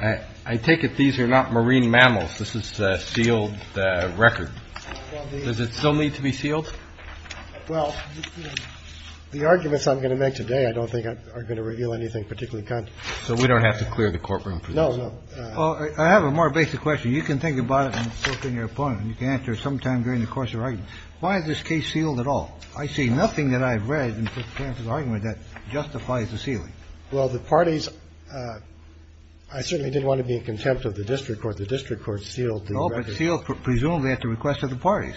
I take it these are not marine mammals? This is a sealed record. Does it still need to be sealed? Well, the arguments I'm going to make today I don't think are going to reveal anything particularly controversial. So we don't have to clear the courtroom for this? No, no. Well, I have a more basic question. You can think about it in filtering your opponent and you can answer it sometime during the course of the argument. Why is this case sealed at all? I see nothing that I've read in the argument that justifies the ceiling. Well, the parties. I certainly didn't want to be in contempt of the district court. The district court sealed sealed presumably at the request of the parties.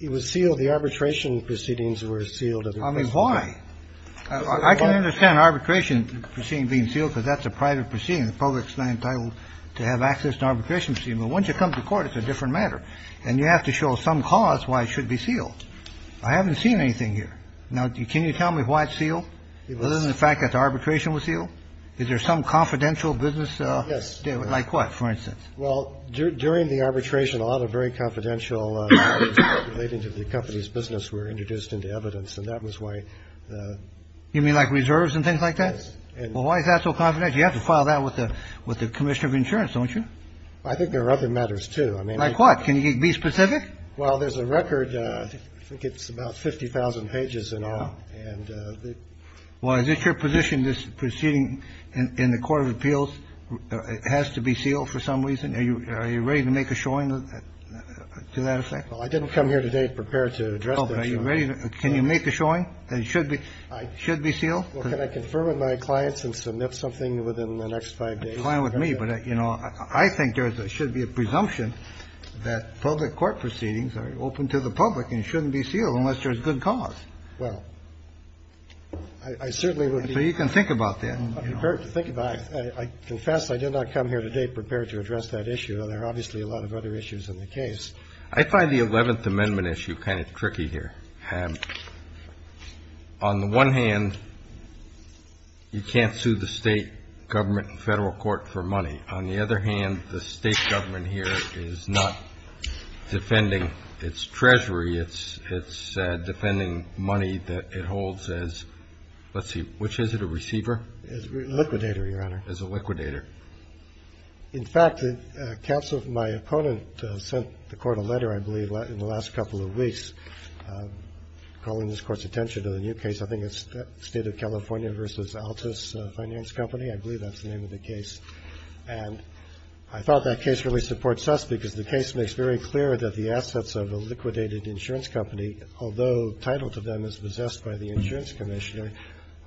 It was sealed. The arbitration proceedings were sealed. I mean, why? I can understand arbitration proceeding being sealed because that's a private proceeding. The public is not entitled to have access to arbitration proceedings. But once you come to court, it's a different matter. And you have to show some cause why it should be sealed. I haven't seen anything here. Now, can you tell me why it's sealed? It wasn't the fact that the arbitration was sealed. Is there some confidential business? Yes. Like what, for instance? Well, during the arbitration, a lot of very confidential relating to the company's business were introduced into evidence. And that was why you mean like reserves and things like that. And why is that so confident you have to file that with the with the commissioner of insurance, don't you? I think there are other matters, too. I mean, like what? Can you be specific? Well, there's a record. I think it's about 50,000 pages in all. And why is it your position this proceeding in the court of appeals has to be sealed for some reason? Are you are you ready to make a showing to that effect? Well, I didn't come here today prepared to address. Are you ready? Can you make a showing? It should be I should be sealed. Can I confirm with my clients and submit something within the next five days? Well, you know, I think there's there should be a presumption that public court proceedings are open to the public and shouldn't be sealed unless there's good cause. Well, I certainly would. So you can think about that. Think about it. I confess I did not come here today prepared to address that issue. And there are obviously a lot of other issues in the case. I find the 11th Amendment issue kind of tricky here. On the one hand, you can't sue the state government and federal court for money. On the other hand, the state government here is not defending its treasury. It's it's defending money that it holds as. Let's see, which is it? A receiver? Liquidator, Your Honor. As a liquidator. In fact, the counsel of my opponent sent the court a letter, I believe, in the last couple of weeks. Calling this court's attention to the new case, I think it's State of California versus Altus Finance Company. I believe that's the name of the case. And I thought that case really supports us because the case makes very clear that the assets of a liquidated insurance company, although title to them is possessed by the insurance commissioner,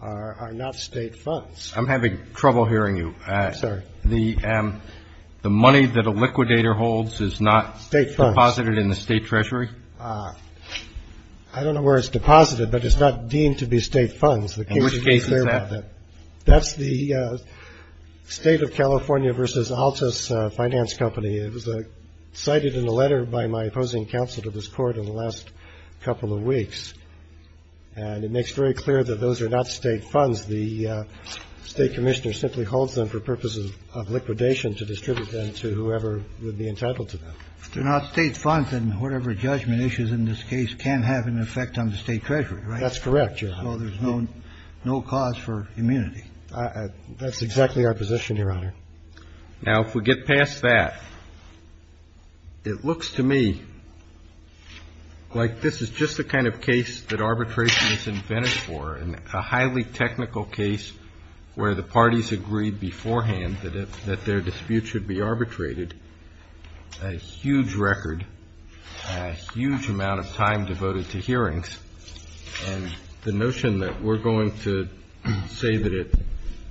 are not state funds. I'm having trouble hearing you, sir. The the money that a liquidator holds is not state deposited in the state treasury. I don't know where it's deposited, but it's not deemed to be state funds. The case is that that's the State of California versus Altus Finance Company. It was cited in a letter by my opposing counsel to this court in the last couple of weeks. And it makes very clear that those are not state funds. The state commissioner simply holds them for purposes of liquidation to distribute them to whoever would be entitled to them. They're not state funds and whatever judgment issues in this case can have an effect on the state treasury. That's correct. Well, there's no no cause for immunity. That's exactly our position, Your Honor. Now, if we get past that, it looks to me like this is just the kind of case that arbitration is invented for. And a highly technical case where the parties agreed beforehand that that their disputes should be arbitrated. A huge record, a huge amount of time devoted to hearings. And the notion that we're going to say that it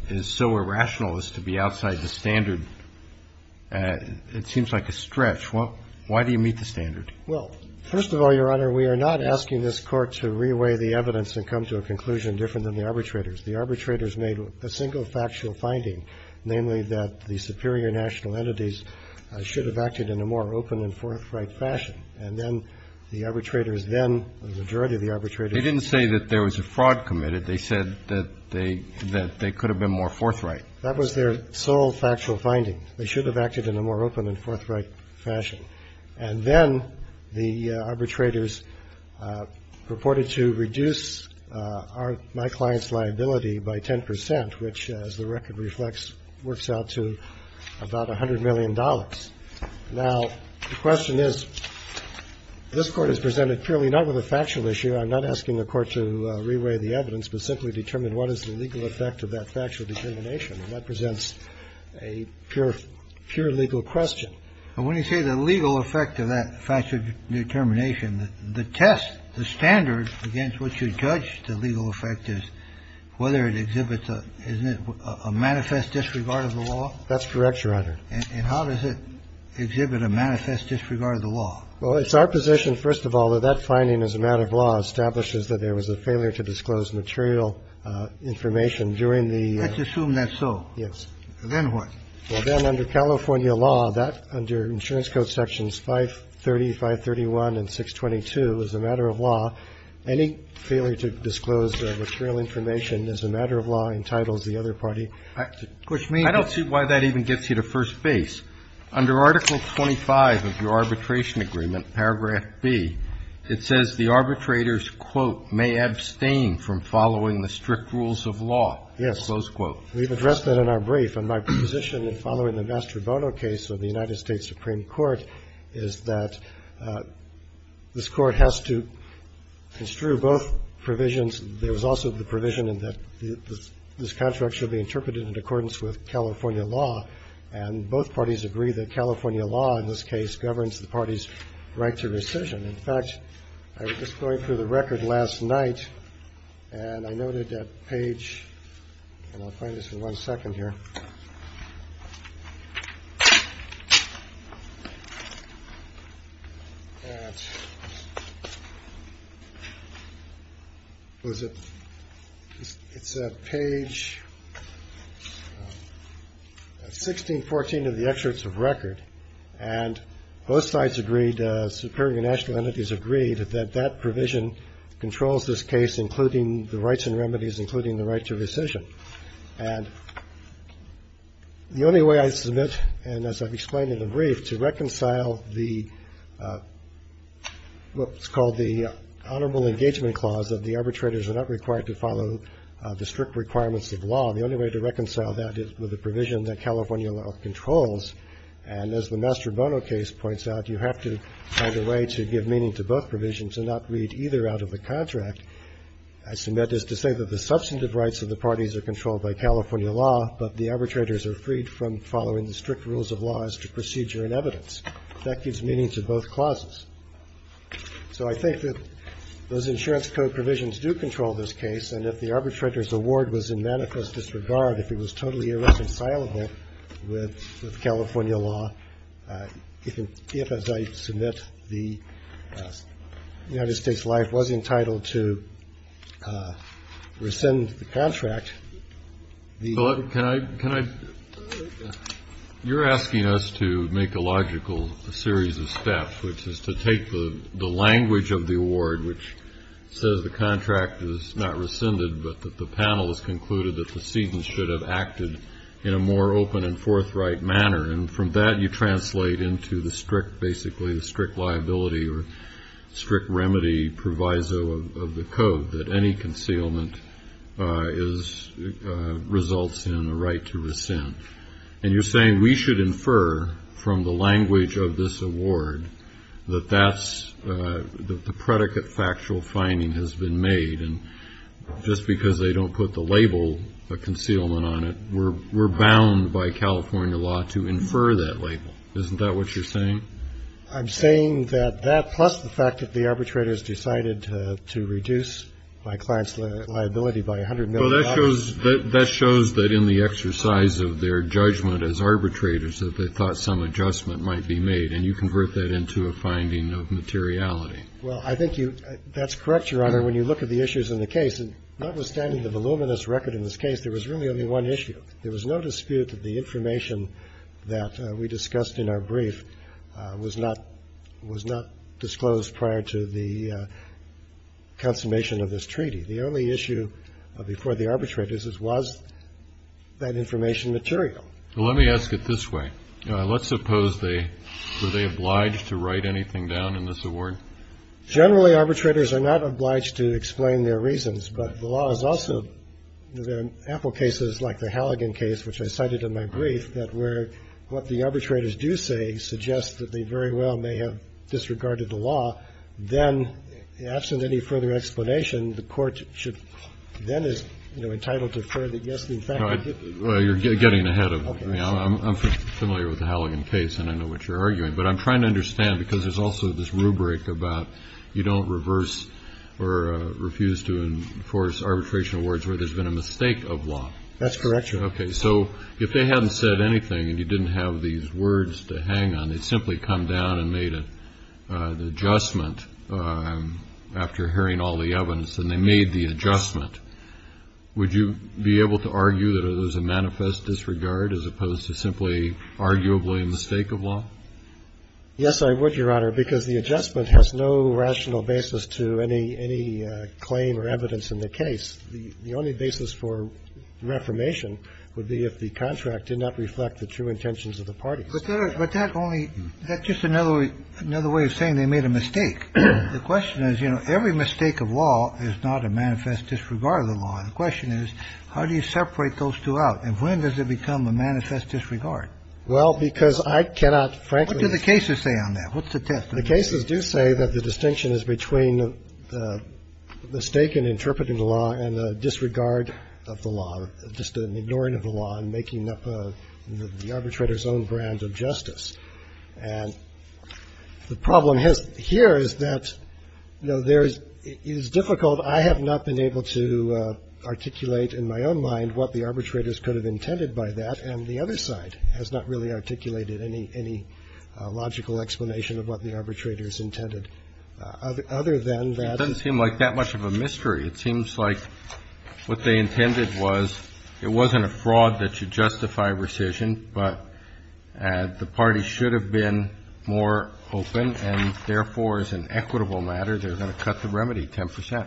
is so irrational as to be outside the standard, it seems like a stretch. Why do you meet the standard? Well, first of all, Your Honor, we are not asking this court to reweigh the evidence and come to a conclusion different than the arbitrators. The arbitrators made a single factual finding, namely that the superior national entities should have acted in a more open and forthright fashion. And then the arbitrators then, the majority of the arbitrators. They didn't say that there was a fraud committed. They said that they that they could have been more forthright. That was their sole factual finding. They should have acted in a more open and forthright fashion. And then the arbitrators purported to reduce our, my client's liability by 10 percent, which, as the record reflects, works out to about $100 million. Now, the question is, this Court has presented purely not with a factual issue. I'm not asking the Court to reweigh the evidence, but simply determine what is the legal effect of that factual determination. And that presents a pure, pure legal question. And when you say the legal effect of that factual determination, the test, the standard against what you judge the legal effect is whether it exhibits a manifest disregard of the law. That's correct, Your Honor. And how does it exhibit a manifest disregard of the law? Well, it's our position, first of all, that that finding as a matter of law establishes that there was a failure to disclose material information during the. Let's assume that. So. Yes. Then what? Well, then, under California law, that, under Insurance Code Sections 530, 531, and 622, as a matter of law, any failure to disclose material information as a matter of law entitles the other party. I don't see why that even gets you to first base. Under Article 25 of your arbitration agreement, Paragraph B, it says the arbitrators, quote, may abstain from following the strict rules of law. Yes. Close quote. We've addressed that in our brief. And my position in following the Mastrobono case of the United States Supreme Court is that this Court has to construe both provisions. There was also the provision that this contract should be interpreted in accordance with California law, and both parties agree that California law in this case governs the party's right to rescission. In fact, I was just going through the record last night and I noted that page and I'll find this in one second here. It's at page 1614 of the Excerpts of Record. And both sides agreed, the superior national entities agreed, that that provision controls this case, including the rights and remedies, including the right to rescission. And the only way I submit, and as I've explained in the brief, to reconcile what's called the Honorable Engagement Clause, that the arbitrators are not required to follow the strict requirements of law, the only way to reconcile that is with the provision that California law controls. And as the Mastrobono case points out, you have to find a way to give meaning to both provisions and not read either out of the contract. I submit this to say that the substantive rights of the parties are controlled by California law, but the arbitrators are freed from following the strict rules of law as to procedure and evidence. That gives meaning to both clauses. So I think that those insurance code provisions do control this case, and if the arbitrator's award was in manifest disregard, if it was totally irreconcilable with California law, if, as I submit, the United States life was entitled to rescind the contract, the. Can I can I. You're asking us to make a logical series of steps, which is to take the language of the award, which says the contract is not rescinded, but that the panel has concluded that the season should have acted in a more open and forthright manner. And from that, you translate into the strict, basically, the strict liability or strict remedy proviso of the code that any concealment is results in a right to rescind. And you're saying we should infer from the language of this award that that's the predicate factual finding has been made. And just because they don't put the label of concealment on it, we're bound by California law to infer that label. Isn't that what you're saying? I'm saying that that, plus the fact that the arbitrators decided to reduce my client's liability by $100 million. Well, that shows that in the exercise of their judgment as arbitrators, that they thought some adjustment might be made. And you convert that into a finding of materiality. Well, I think that's correct, Your Honor. When you look at the issues in the case, notwithstanding the voluminous record in this case, there was really only one issue. There was no dispute that the information that we discussed in our brief was not disclosed prior to the consummation of this treaty. The only issue before the arbitrators was that information material. Well, let me ask it this way. Let's suppose they were obliged to write anything down in this award. Generally, arbitrators are not obliged to explain their reasons. But the law is also in ample cases like the Halligan case, which I cited in my brief, that where what the arbitrators do say suggests that they very well may have disregarded the law. Then, absent any further explanation, the court should then is entitled to further guess. In fact, you're getting ahead of me. I'm familiar with the Halligan case and I know what you're arguing. But I'm trying to understand because there's also this rubric about you don't reverse or refuse to enforce arbitration awards where there's been a mistake of law. That's correct, Your Honor. Okay. So if they hadn't said anything and you didn't have these words to hang on, they'd simply come down and made an adjustment after hearing all the evidence and they made the adjustment. Would you be able to argue that it was a manifest disregard as opposed to simply arguably a mistake of law? Yes, I would, Your Honor, because the adjustment has no rational basis to any claim or evidence in the case. The only basis for reformation would be if the contract did not reflect the true intentions of the parties. But that only – that's just another way of saying they made a mistake. The question is, you know, every mistake of law is not a manifest disregard of the law. The question is, how do you separate those two out? And when does it become a manifest disregard? Well, because I cannot frankly – What do the cases say on that? What's the test? The cases do say that the distinction is between the mistake in interpreting the law and the disregard of the law, just an ignoring of the law and making up the arbitrator's own brand of justice. And the problem here is that, you know, there is – it is difficult. I have not been able to articulate in my own mind what the arbitrators could have intended by that, and the other side has not really articulated any logical explanation of what the arbitrators intended other than that. It doesn't seem like that much of a mystery. It seems like what they intended was it wasn't a fraud that should justify rescission, but the parties should have been more open, and therefore, as an equitable matter, they're going to cut the remedy 10 percent.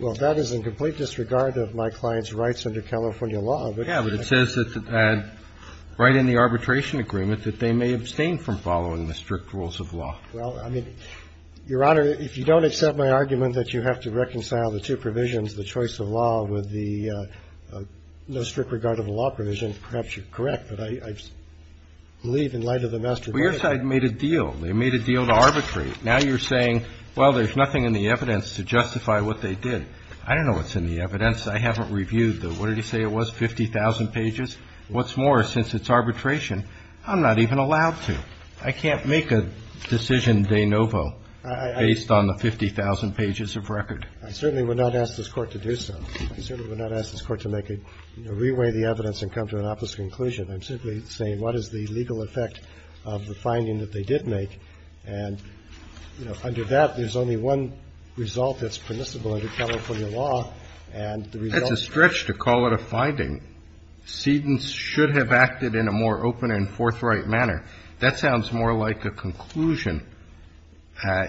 Well, that is in complete disregard of my client's rights under California law. Yeah, but it says that right in the arbitration agreement that they may abstain from following the strict rules of law. Well, I mean, Your Honor, if you don't accept my argument that you have to reconcile the two provisions, the choice of law, with the no strict regard of the law provision, perhaps you're correct, but I believe in light of the master verdict. Well, your side made a deal. They made a deal to arbitrate. Now you're saying, well, there's nothing in the evidence to justify what they did. I don't know what's in the evidence. I haven't reviewed the – what did he say it was, 50,000 pages? What's more, since it's arbitration, I'm not even allowed to. I can't make a decision de novo based on the 50,000 pages of record. I certainly would not ask this Court to do so. I certainly would not ask this Court to make a – you know, reweigh the evidence and come to an opposite conclusion. I'm simply saying what is the legal effect of the finding that they did make, and, you know, under that, there's only one result that's permissible under California law, and the result of that – That's a stretch to call it a finding. Sedan should have acted in a more open and forthright manner. That sounds more like a conclusion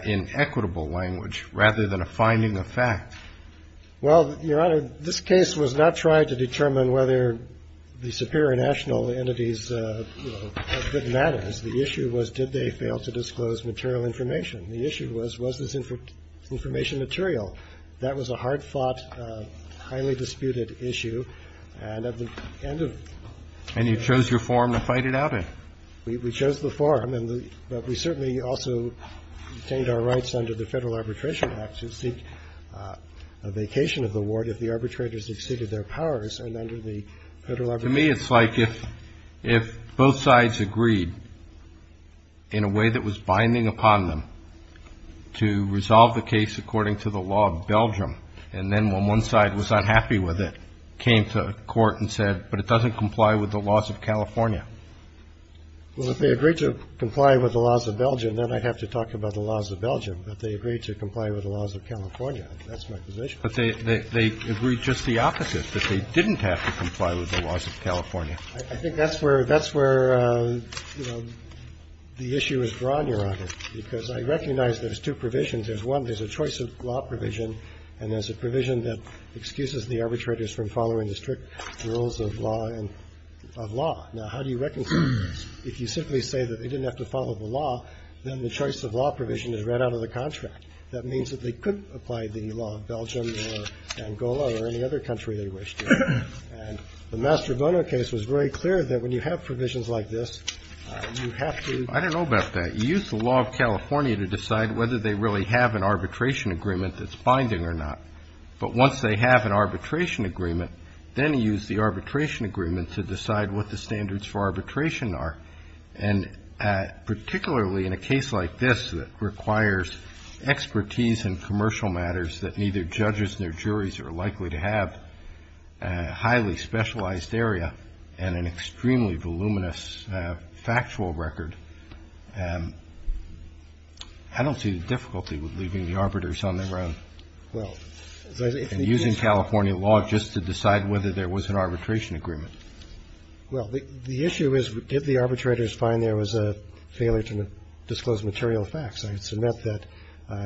in equitable language rather than a finding of fact. Well, Your Honor, this case was not tried to determine whether the superior national entities, you know, had good manners. The issue was, did they fail to disclose material information? The issue was, was this information material? That was a hard-fought, highly disputed issue, and at the end of – And you chose your forum to fight it out in. We chose the forum, but we certainly also retained our rights under the Federal To me, it's like if both sides agreed in a way that was binding upon them to resolve the case according to the law of Belgium, and then when one side was unhappy with it, came to court and said, but it doesn't comply with the laws of California. Well, if they agreed to comply with the laws of Belgium, then I'd have to talk about the laws of Belgium, but they agreed to comply with the laws of California. That's my position. But they agreed just the opposite, that they didn't have to comply with the laws of California. I think that's where – that's where, you know, the issue is drawn, Your Honor, because I recognize there's two provisions. There's one. There's a choice of law provision, and there's a provision that excuses the arbitrators from following the strict rules of law and – of law. Now, how do you reconcile those? If you simply say that they didn't have to follow the law, then the choice of law provision is right out of the contract. That means that they could apply the law of Belgium or Angola or any other country they wished to. And the Mastrobono case was very clear that when you have provisions like this, you have to – I don't know about that. You use the law of California to decide whether they really have an arbitration agreement that's binding or not. But once they have an arbitration agreement, then you use the arbitration agreement to decide what the standards for arbitration are. And particularly in a case like this that requires expertise in commercial matters that neither judges nor juries are likely to have, a highly specialized area and an extremely voluminous factual record, I don't see the difficulty with leaving the arbiters on their own and using California law just to decide whether there was an arbitration agreement. Well, the issue is, did the arbitrators find there was a failure to disclose material facts? I would submit that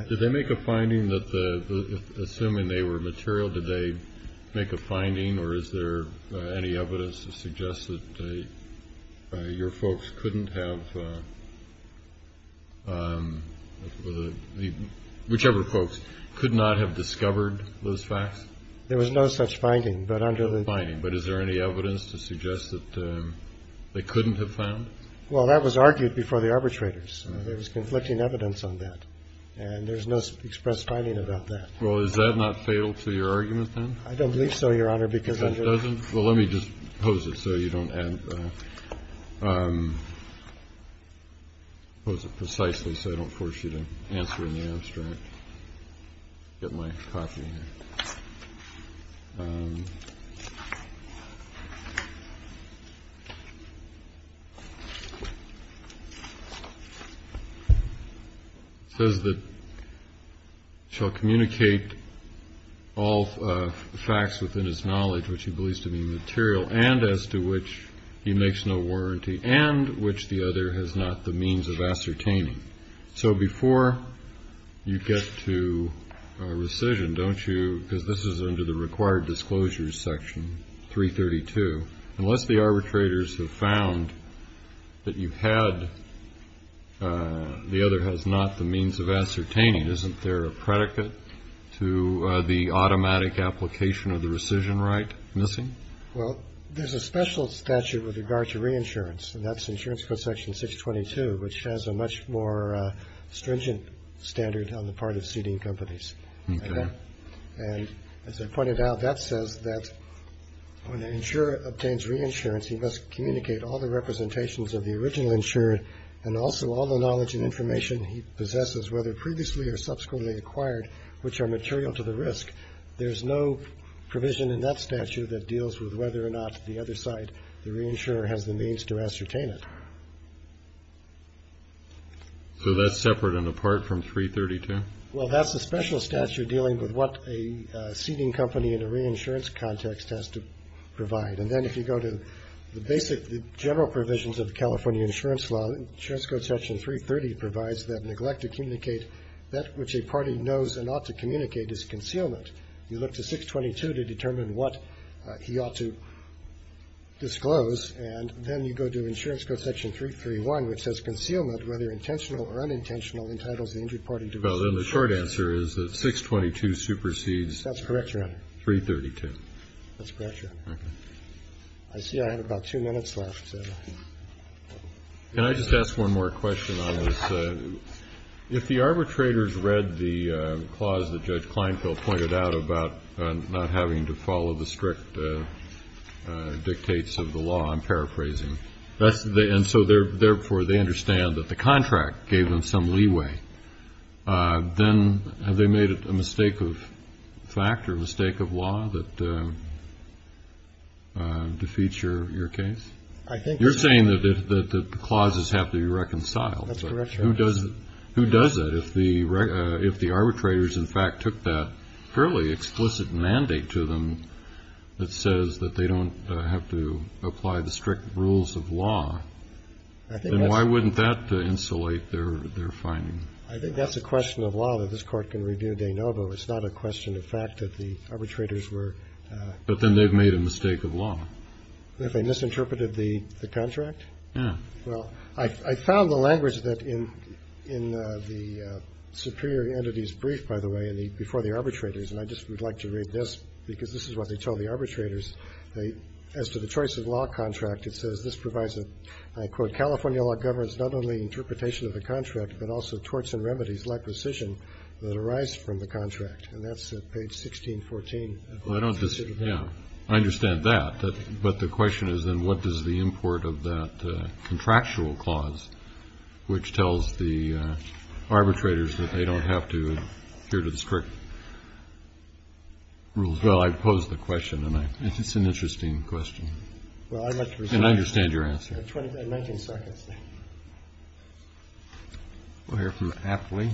– Did they make a finding that the – assuming they were material, did they make a finding or is there any evidence to suggest that your folks couldn't have – whichever folks could not have discovered those facts? There was no such finding, but under the – There was no evidence to suggest that they couldn't have found it? Well, that was argued before the arbitrators. There was conflicting evidence on that. And there's no expressed finding about that. Well, is that not fatal to your argument, then? I don't believe so, Your Honor, because under – It doesn't? Well, let me just pose it so you don't add – Pose it precisely so I don't force you to answer in the abstract. Get my copy here. It says that shall communicate all facts within his knowledge which he believes to be material and as to which he makes no warranty and which the other has not the means of ascertaining. So before you get to rescission, don't you – because this is under the required disclosures section, 332. Unless the arbitrators have found that you had – the other has not the means of ascertaining, isn't there a predicate to the automatic application of the rescission right missing? Well, there's a special statute with regard to reinsurance, and that's insurance code section 622, which has a much more stringent standard on the part of seeding companies. Okay. And as I pointed out, that says that when an insurer obtains reinsurance, he must communicate all the representations of the original insurer and also all the knowledge and information he possesses, whether previously or subsequently acquired, which are material to the risk. There's no provision in that statute that deals with whether or not the other side, the reinsurer, has the means to ascertain it. So that's separate and apart from 332? Well, that's a special statute dealing with what a seeding company in a reinsurance context has to provide. And then if you go to the basic general provisions of the California insurance law, insurance code section 330 provides that neglect to communicate that which a party knows and ought to communicate is concealment. You look to 622 to determine what he ought to disclose, and then you go to insurance code section 331, which says, concealment, whether intentional or unintentional, entitles the injured party to... Well, then the short answer is that 622 supersedes... That's correct, Your Honor. ...332. That's correct, Your Honor. Okay. I see I have about two minutes left. Can I just ask one more question on this? If the arbitrators read the clause that Judge Kleinfeld pointed out about not having to follow the strict dictates of the law, I'm paraphrasing, and so therefore they understand that the contract gave them some leeway, then have they made a mistake of fact or a mistake of law that defeats your case? I think so. You're saying that the clauses have to be reconciled. That's correct, Your Honor. Who does that if the arbitrators, in fact, took that fairly explicit mandate to them that says that they don't have to apply the strict rules of law? I think that's... Then why wouldn't that insulate their finding? I think that's a question of law that this Court can review de novo. It's not a question of fact that the arbitrators were... But then they've made a mistake of law. If they misinterpreted the contract? Yeah. Well, I found the language in the Superior Entity's brief, by the way, before the arbitrators, and I just would like to read this because this is what they told the arbitrators. As to the choice of law contract, it says, this provides a, I quote, California law governs not only interpretation of the contract, but also torts and remedies like rescission that arise from the contract. And that's at page 1614. Well, I don't disagree. I understand that. But the question is, then, what does the import of that contractual clause, which tells the arbitrators that they don't have to adhere to the strict rules... Well, I pose the question, and it's an interesting question. And I understand your answer. We'll hear from Apley.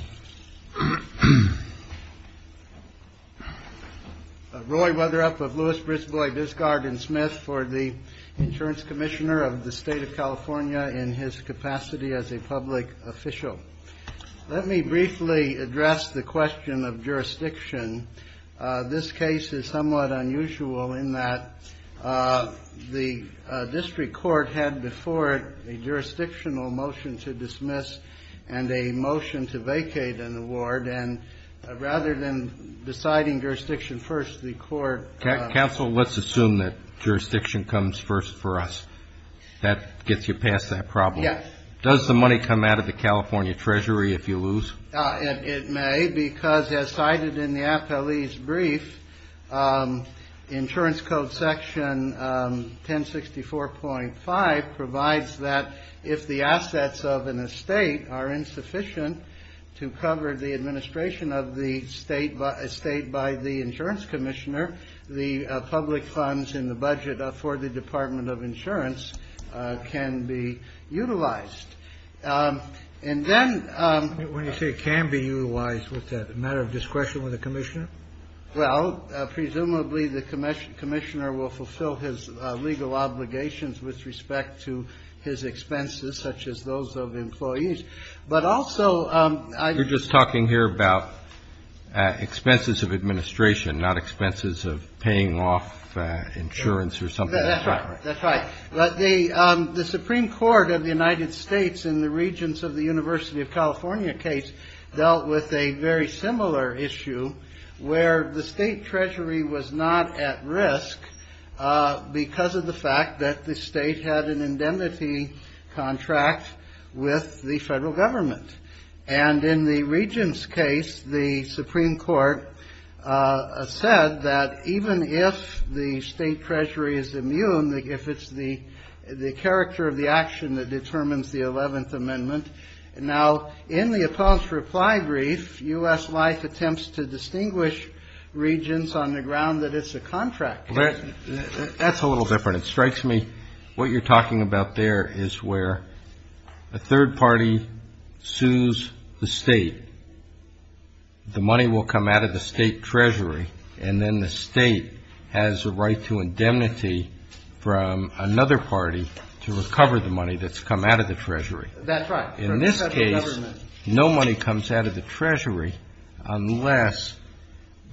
Roy Weatherup of Lewis, Brisbois, Discard, and Smith for the Insurance Commissioner of the State of California in his capacity as a public official. Let me briefly address the question of jurisdiction. This case is somewhat unusual in that the district court had before it a jurisdictional motion to dismiss and a motion to vacate an award. And rather than deciding jurisdiction first, the court... Counsel, let's assume that jurisdiction comes first for us. That gets you past that problem. Yes. Does the money come out of the California Treasury if you lose? It may, because as cited in the Apley's brief, Insurance Code Section 1064.5 provides that if the assets of an estate are insufficient to cover the administration of the state by the insurance commissioner, the public funds in the budget for the Department of Insurance can be utilized. And then... When you say it can be utilized, what's that, a matter of discretion with the commissioner? Well, presumably the commissioner will fulfill his legal obligations with respect to his expenses, such as those of employees. But also... You're just talking here about expenses of administration, not expenses of paying off insurance or something. That's right. But the Supreme Court of the United States in the Regents of the University of California case dealt with a very similar issue, where the state treasury was not at risk because of the fact that the state had an indemnity contract with the federal government. And in the Regents' case, the Supreme Court said that even if the state treasury is immune, if it's the character of the action that determines the Eleventh Amendment, now in the Apollo's reply brief, U.S. Life attempts to distinguish Regents on the ground that it's a contract. That's a little different. What you're talking about there is where a third party sues the state. The money will come out of the state treasury. And then the state has a right to indemnity from another party to recover the money that's come out of the treasury. That's right. In this case, no money comes out of the treasury, unless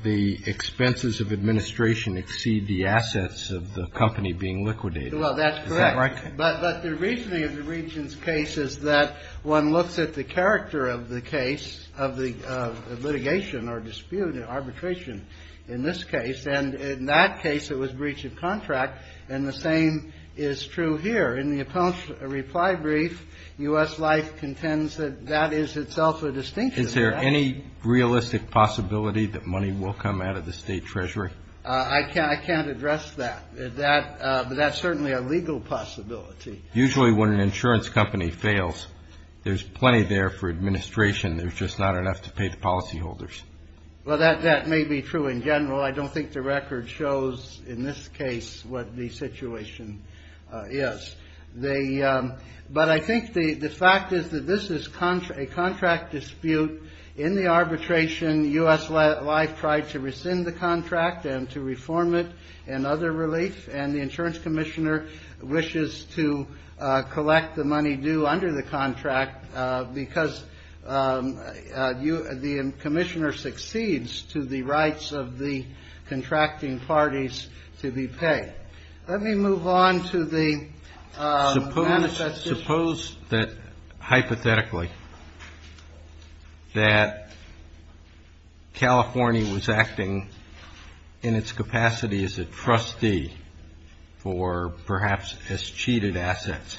the expenses of administration exceed the assets of the company being liquidated. Well, that's correct. Is that right? But the reasoning of the Regents' case is that one looks at the character of the case, of the litigation or dispute or arbitration in this case. And in that case, it was breach of contract. And the same is true here. In the Apollo's reply brief, U.S. Life contends that that is itself a distinction. Is there any realistic possibility that money will come out of the state treasury? I can't address that. But that's certainly a legal possibility. Usually when an insurance company fails, there's plenty there for administration. There's just not enough to pay the policyholders. Well, that may be true in general. I don't think the record shows in this case what the situation is. But I think the fact is that this is a contract dispute in the arbitration. U.S. Life tried to rescind the contract and to reform it and other relief. And the insurance commissioner wishes to collect the money due under the contract because the commissioner succeeds to the rights of the contracting parties to be paid. Let me move on to the manifesto. Suppose that hypothetically that California was acting in its capacity as a trustee for perhaps as cheated assets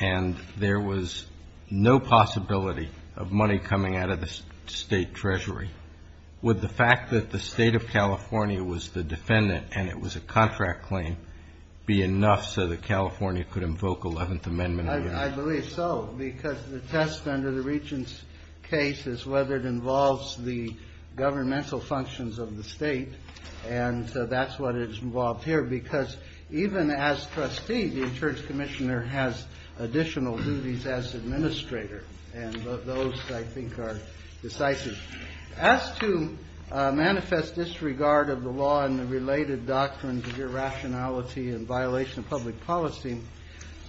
and there was no possibility of money coming out of the state treasury. Would the fact that the state of California was the defendant and it was a contract claim be enough so that California could invoke 11th Amendment? I believe so because the test under the regent's case is whether it involves the governmental functions of the state. And that's what is involved here because even as trustee, the insurance commissioner has additional duties as administrator. And those, I think, are decisive. As to manifest disregard of the law and the related doctrines of irrationality and violation of public policy,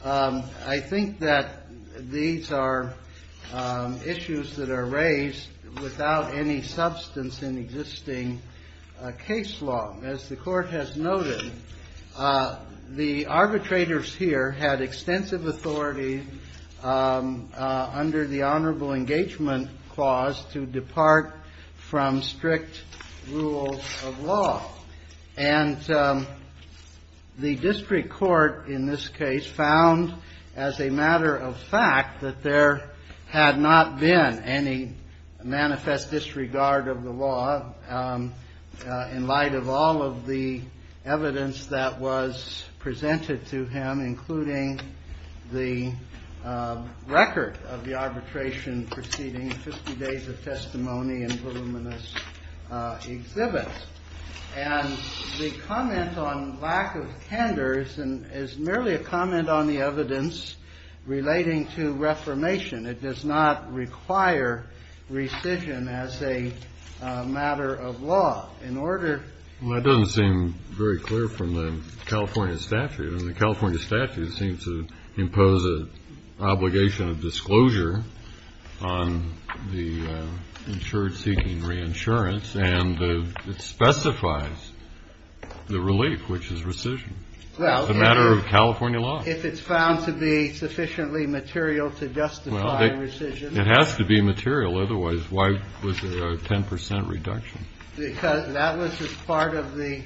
I think that these are issues that are raised without any substance in existing case law. As the Court has noted, the arbitrators here had extensive authority under the Honorable Engagement Clause to depart from strict rules of law. And the district court in this case found as a matter of fact that there had not been any manifest disregard of the law in light of all of the evidence that was presented to him, including the record of the arbitration proceeding, 50 days of testimony and voluminous exhibits. And the comment on lack of candors is merely a comment on the evidence relating to reformation. It does not require rescission as a matter of law. In order to ---- Well, that doesn't seem very clear from the California statute. And the California statute seems to impose an obligation of disclosure on the insured seeking reinsurance. And it specifies the relief, which is rescission. It's a matter of California law. If it's found to be sufficiently material to justify rescission. It has to be material. Otherwise, why was there a 10 percent reduction? Because that was just part of the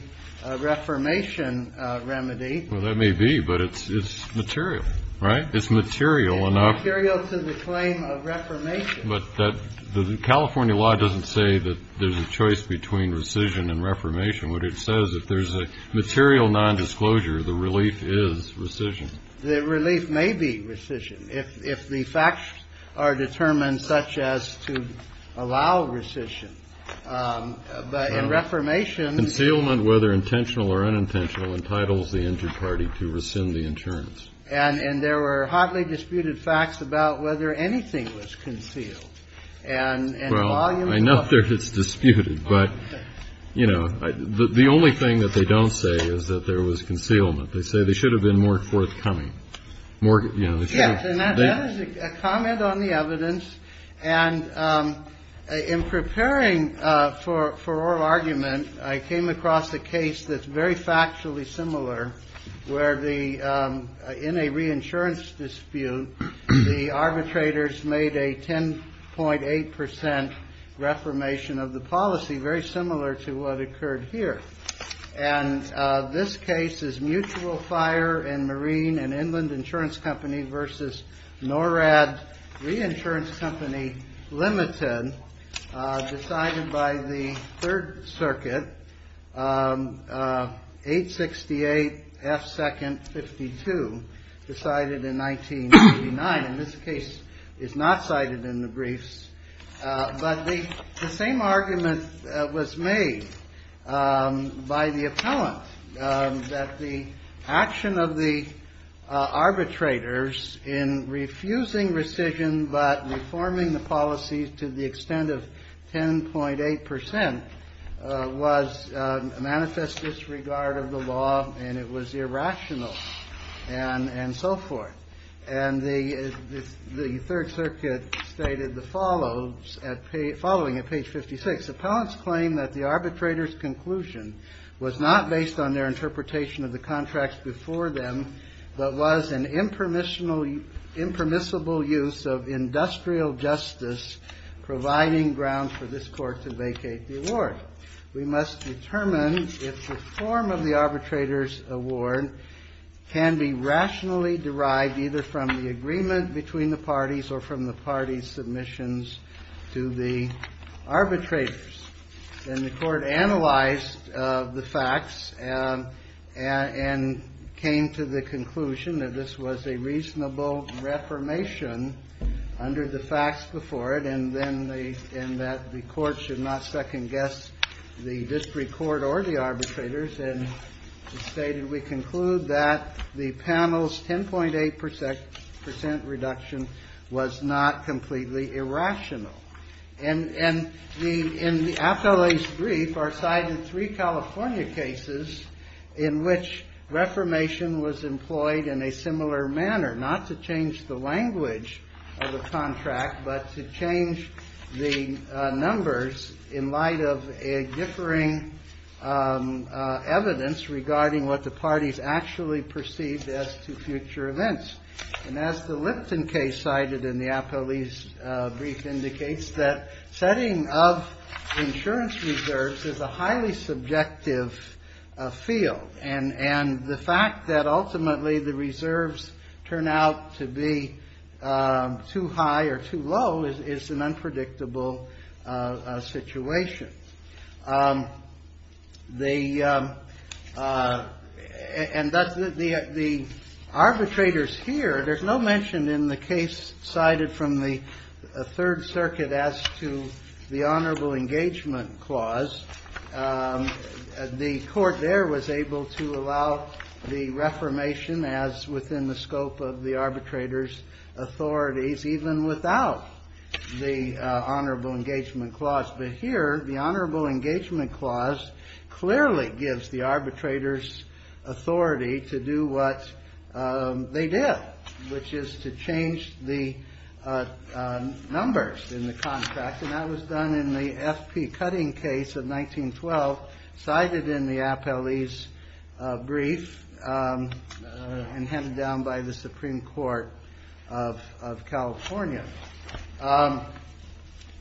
reformation remedy. Well, that may be, but it's material, right? It's material enough. It's material to the claim of reformation. But the California law doesn't say that there's a choice between rescission and reformation. What it says, if there's a material nondisclosure, the relief is rescission. The relief may be rescission if the facts are determined such as to allow rescission. But in reformation ---- Concealment, whether intentional or unintentional, entitles the injured party to rescind the insurance. And there were hotly disputed facts about whether anything was concealed. Well, I know it's disputed, but, you know, the only thing that they don't say is that there was concealment. They say there should have been more forthcoming. Yes, and that is a comment on the evidence. And in preparing for oral argument, I came across a case that's very factually similar, where in a reinsurance dispute, the arbitrators made a 10.8 percent reformation of the policy, very similar to what occurred here. And this case is Mutual Fire and Marine and Inland Insurance Company versus NORAD Reinsurance Company Limited, decided by the Third Circuit, 868 F. 2nd. 52, decided in 1989. And this case is not cited in the briefs. But the same argument was made by the appellant, that the action of the arbitrators in refusing rescission but reforming the policies to the extent of 10.8 percent was a manifest disregard of the law, and it was irrational and so forth. And the Third Circuit stated the following at page 56. Appellants claim that the arbitrators' conclusion was not based on their interpretation of the contracts before them, but was an impermissible use of industrial justice providing ground for this Court to vacate the award. We must determine if the form of the arbitrators' award can be rationally derived either from the agreement between the parties or from the parties' submissions to the arbitrators. And the Court analyzed the facts and came to the conclusion that this was a reasonable reformation under the facts before it and that the Court should not second-guess the district court or the arbitrators and stated we conclude that the panel's 10.8 percent reduction was not completely irrational. And in the appellee's brief are cited three California cases in which reformation was employed in a similar manner, not to change the language of the contract, but to change the numbers in light of a differing evidence regarding what the parties actually perceived as to future events. And as the Lipton case cited in the appellee's brief indicates that setting up insurance reserves is a highly subjective field and the fact that ultimately the reserves turn out to be too high or too low is an unpredictable situation. The arbitrators here, there's no mention in the case cited from the Third Circuit as to the Honorable Engagement Clause. The Court there was able to allow the reformation as within the scope of the arbitrators' authorities, even without the Honorable Engagement Clause. But here the Honorable Engagement Clause clearly gives the arbitrators authority to do what they did, which is to change the numbers in the contract. And that was done in the F.P. Cutting case of 1912 cited in the appellee's brief and handed down by the Supreme Court of California.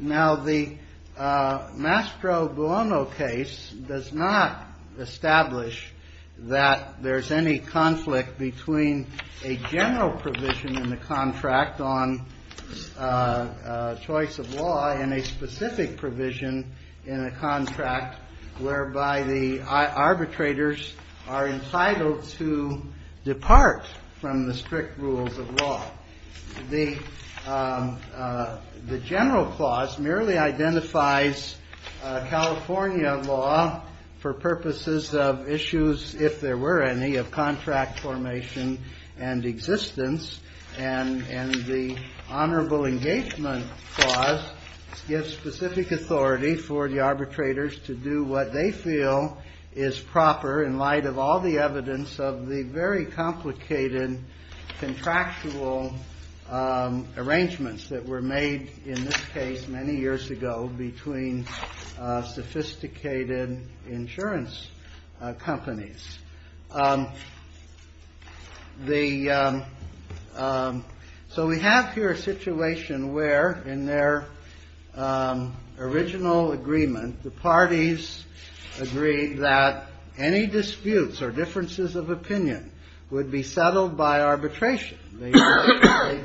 Now, the Mastro Buono case does not establish that there's any conflict between a general provision in the contract on choice of law and a specific provision in a contract whereby the arbitrators are entitled to depart from the strict rules of law. The general clause merely identifies California law for purposes of issues, if there were any, of contract formation and existence. And the Honorable Engagement Clause gives specific authority for the arbitrators to do what they feel is proper in light of all the evidence of the very complicated contractual arrangements that were made in this case many years ago between sophisticated insurance companies. The so we have here a situation where, in their original agreement, the parties agreed that any disputes or differences of opinion would be settled by arbitration. They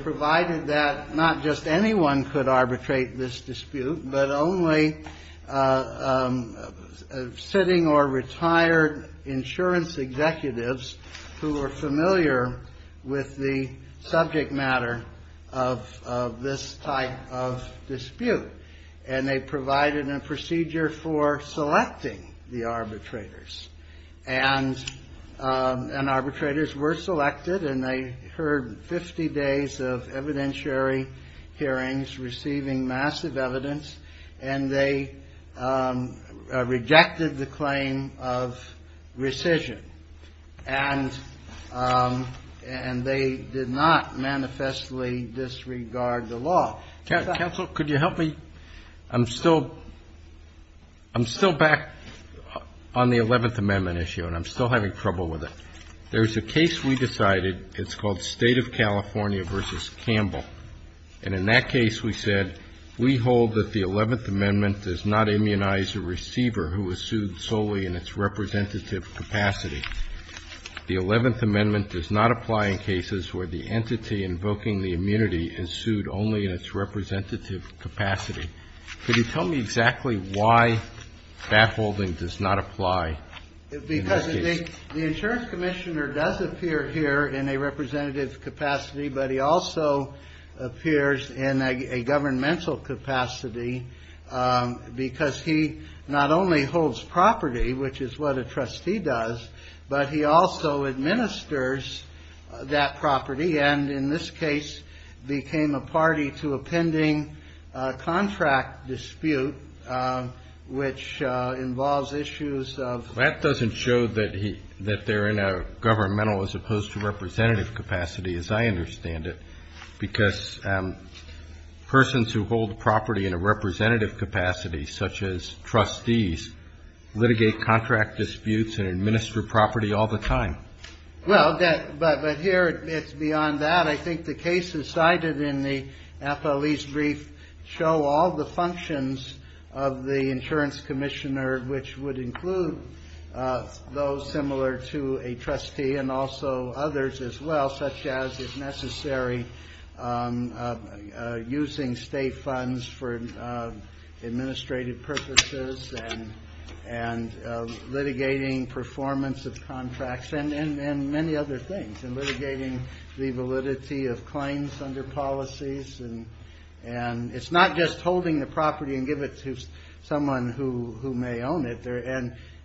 provided that not just anyone could arbitrate this dispute, but only sitting or retired insurance executives who were familiar with the subject matter of this type of dispute. And they provided a procedure for selecting the arbitrators. And arbitrators were selected, and they heard 50 days of evidentiary hearings receiving massive evidence, and they rejected the claim of rescission. And they did not manifestly disregard the law. Counsel, could you help me? I'm still back on the Eleventh Amendment issue, and I'm still having trouble with it. There's a case we decided. It's called State of California v. Campbell. And in that case, we said, we hold that the Eleventh Amendment does not immunize a receiver who is sued solely in its representative capacity. The Eleventh Amendment does not apply in cases where the entity invoking the immunity is sued only in its representative capacity. Could you tell me exactly why that holding does not apply? Because the insurance commissioner does appear here in a representative capacity, but he also appears in a governmental capacity because he not only holds property, which is what a trustee does, but he also administers that property, and in this case became a party to a pending contract dispute, which involves issues of ---- That doesn't show that they're in a governmental as opposed to representative capacity, as I understand it, because persons who hold property in a representative capacity, such as trustees, litigate contract disputes and administer property all the time. Well, but here it's beyond that. I think the cases cited in the FOE's brief show all the functions of the insurance commissioner, which would include those similar to a trustee and also others as well, such as it's necessary using state funds for administrative purposes and litigating performance of contracts and many other things, and litigating the validity of claims under policies. And it's not just holding the property and give it to someone who may own it.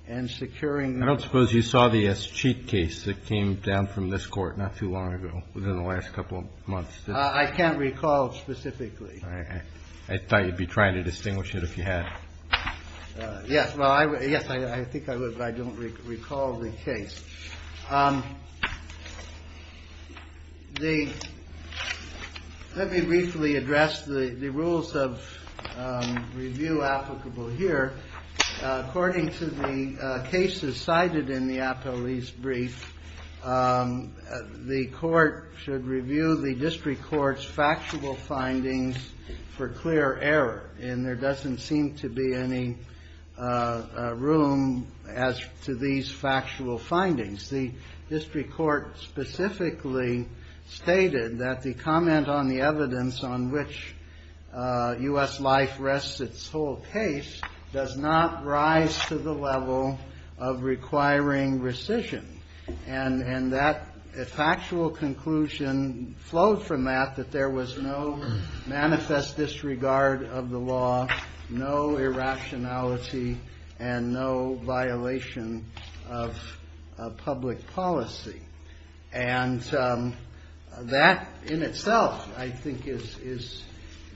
And securing the ---- I don't suppose you saw the escheat case that came down from this Court not too long ago, within the last couple of months. I can't recall specifically. I thought you'd be trying to distinguish it if you had. Yes. Well, I would. Yes, I think I would, but I don't recall the case. The ---- Let me briefly address the rules of review applicable here. According to the cases cited in the APOE's brief, the Court should review the district court's factual findings for clear error. And there doesn't seem to be any room as to these factual findings. The district court specifically stated that the comment on the evidence on which U.S. life rests its whole case does not rise to the level of requiring rescission. And that factual conclusion flowed from that, that there was no manifest disregard of the law, no irrationality, and no violation of public policy. And that in itself, I think, is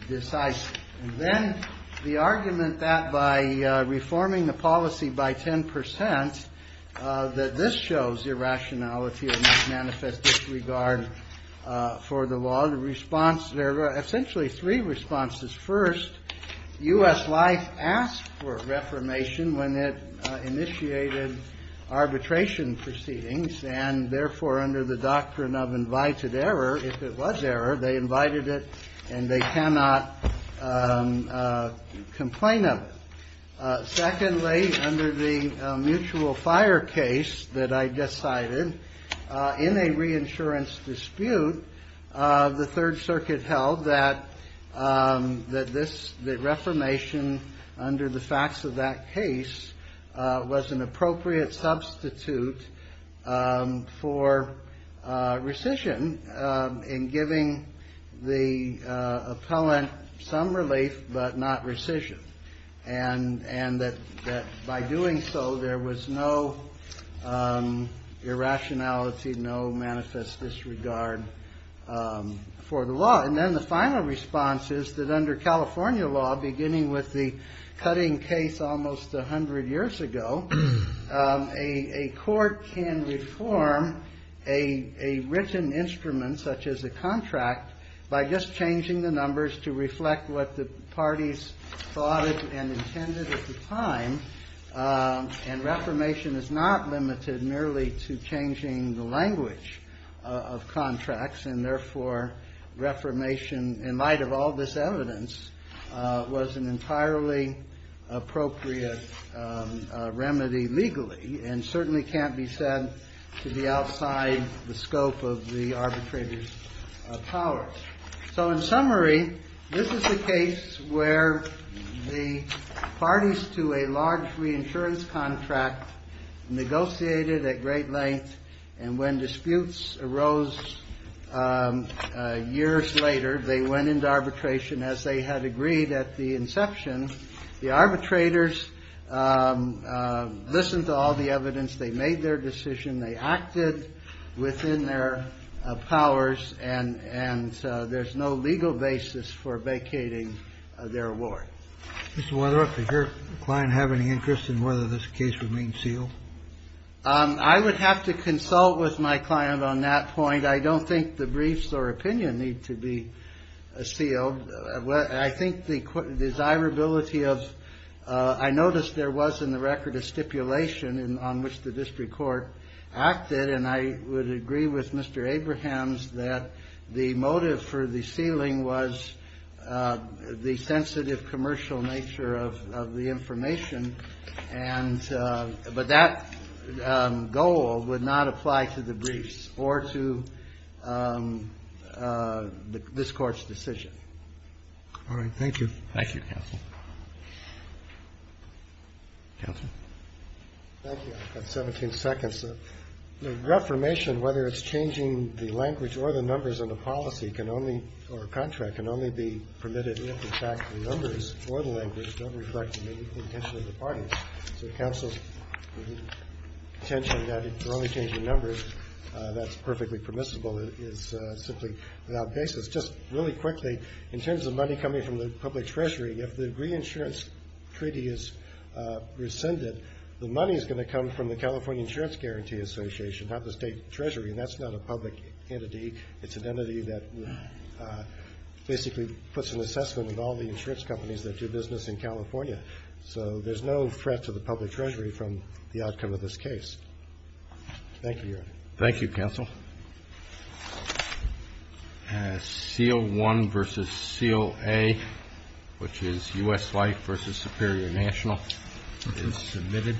decisive. And then the argument that by reforming the policy by 10 percent, that this shows irrationality and no manifest disregard for the law, the response there were essentially three responses. First, U.S. life asked for reformation when it initiated arbitration proceedings, and therefore, under the doctrine of invited error, if it was error, they invited it and they cannot complain of it. Secondly, under the mutual fire case that I just cited, in a reinsurance dispute, the Third Circuit held that this, the reformation under the facts of that case was an appropriate substitute for rescission in giving the appellant some relief but not rescission. And that by doing so, there was no irrationality, no manifest disregard for the law. And then the final response is that under California law, beginning with the cutting case almost 100 years ago, a court can reform a written instrument such as a contract by just changing the numbers to reflect what the parties thought and intended at the time. And reformation is not limited merely to changing the language of contracts, and therefore, reformation, in light of all this evidence, was an entirely appropriate remedy legally and certainly can't be said to be outside the scope of the arbitrator's powers. So in summary, this is a case where the parties to a large reinsurance contract negotiated at great length, and when disputes arose years later, they went into arbitration. As they had agreed at the inception, the arbitrators listened to all the evidence. They made their decision. They acted within their powers, and there's no legal basis for vacating their award. Mr. Weatherup, does your client have any interest in whether this case remains sealed? I would have to consult with my client on that point. I don't think the briefs or opinion need to be sealed. I think the desirability of ‑‑ I noticed there was in the record a stipulation on which the district court acted, and I would agree with Mr. Abrahams that the motive for the sealing was the sensitive commercial nature of the information. And ‑‑ but that goal would not apply to the briefs or to this Court's decision. All right. Thank you. Thank you, counsel. Counsel. Thank you. I've got 17 seconds. The reformation, whether it's changing the language or the numbers in the policy, or contract, can only be permitted if, in fact, the numbers or the language don't reflect the intention of the parties. So counsel's intention that it only change the numbers, that's perfectly permissible, is simply without basis. Just really quickly, in terms of money coming from the public treasury, if the reinsurance treaty is rescinded, the money is going to come from the California Insurance Guarantee Association, not the state treasury, and that's not a public entity. It's an entity that basically puts an assessment of all the insurance companies that do business in California. So there's no threat to the public treasury from the outcome of this case. Thank you, Your Honor. Thank you, counsel. Thank you, counsel. Seal 1 versus seal A, which is U.S. Life versus Superior National, is submitted.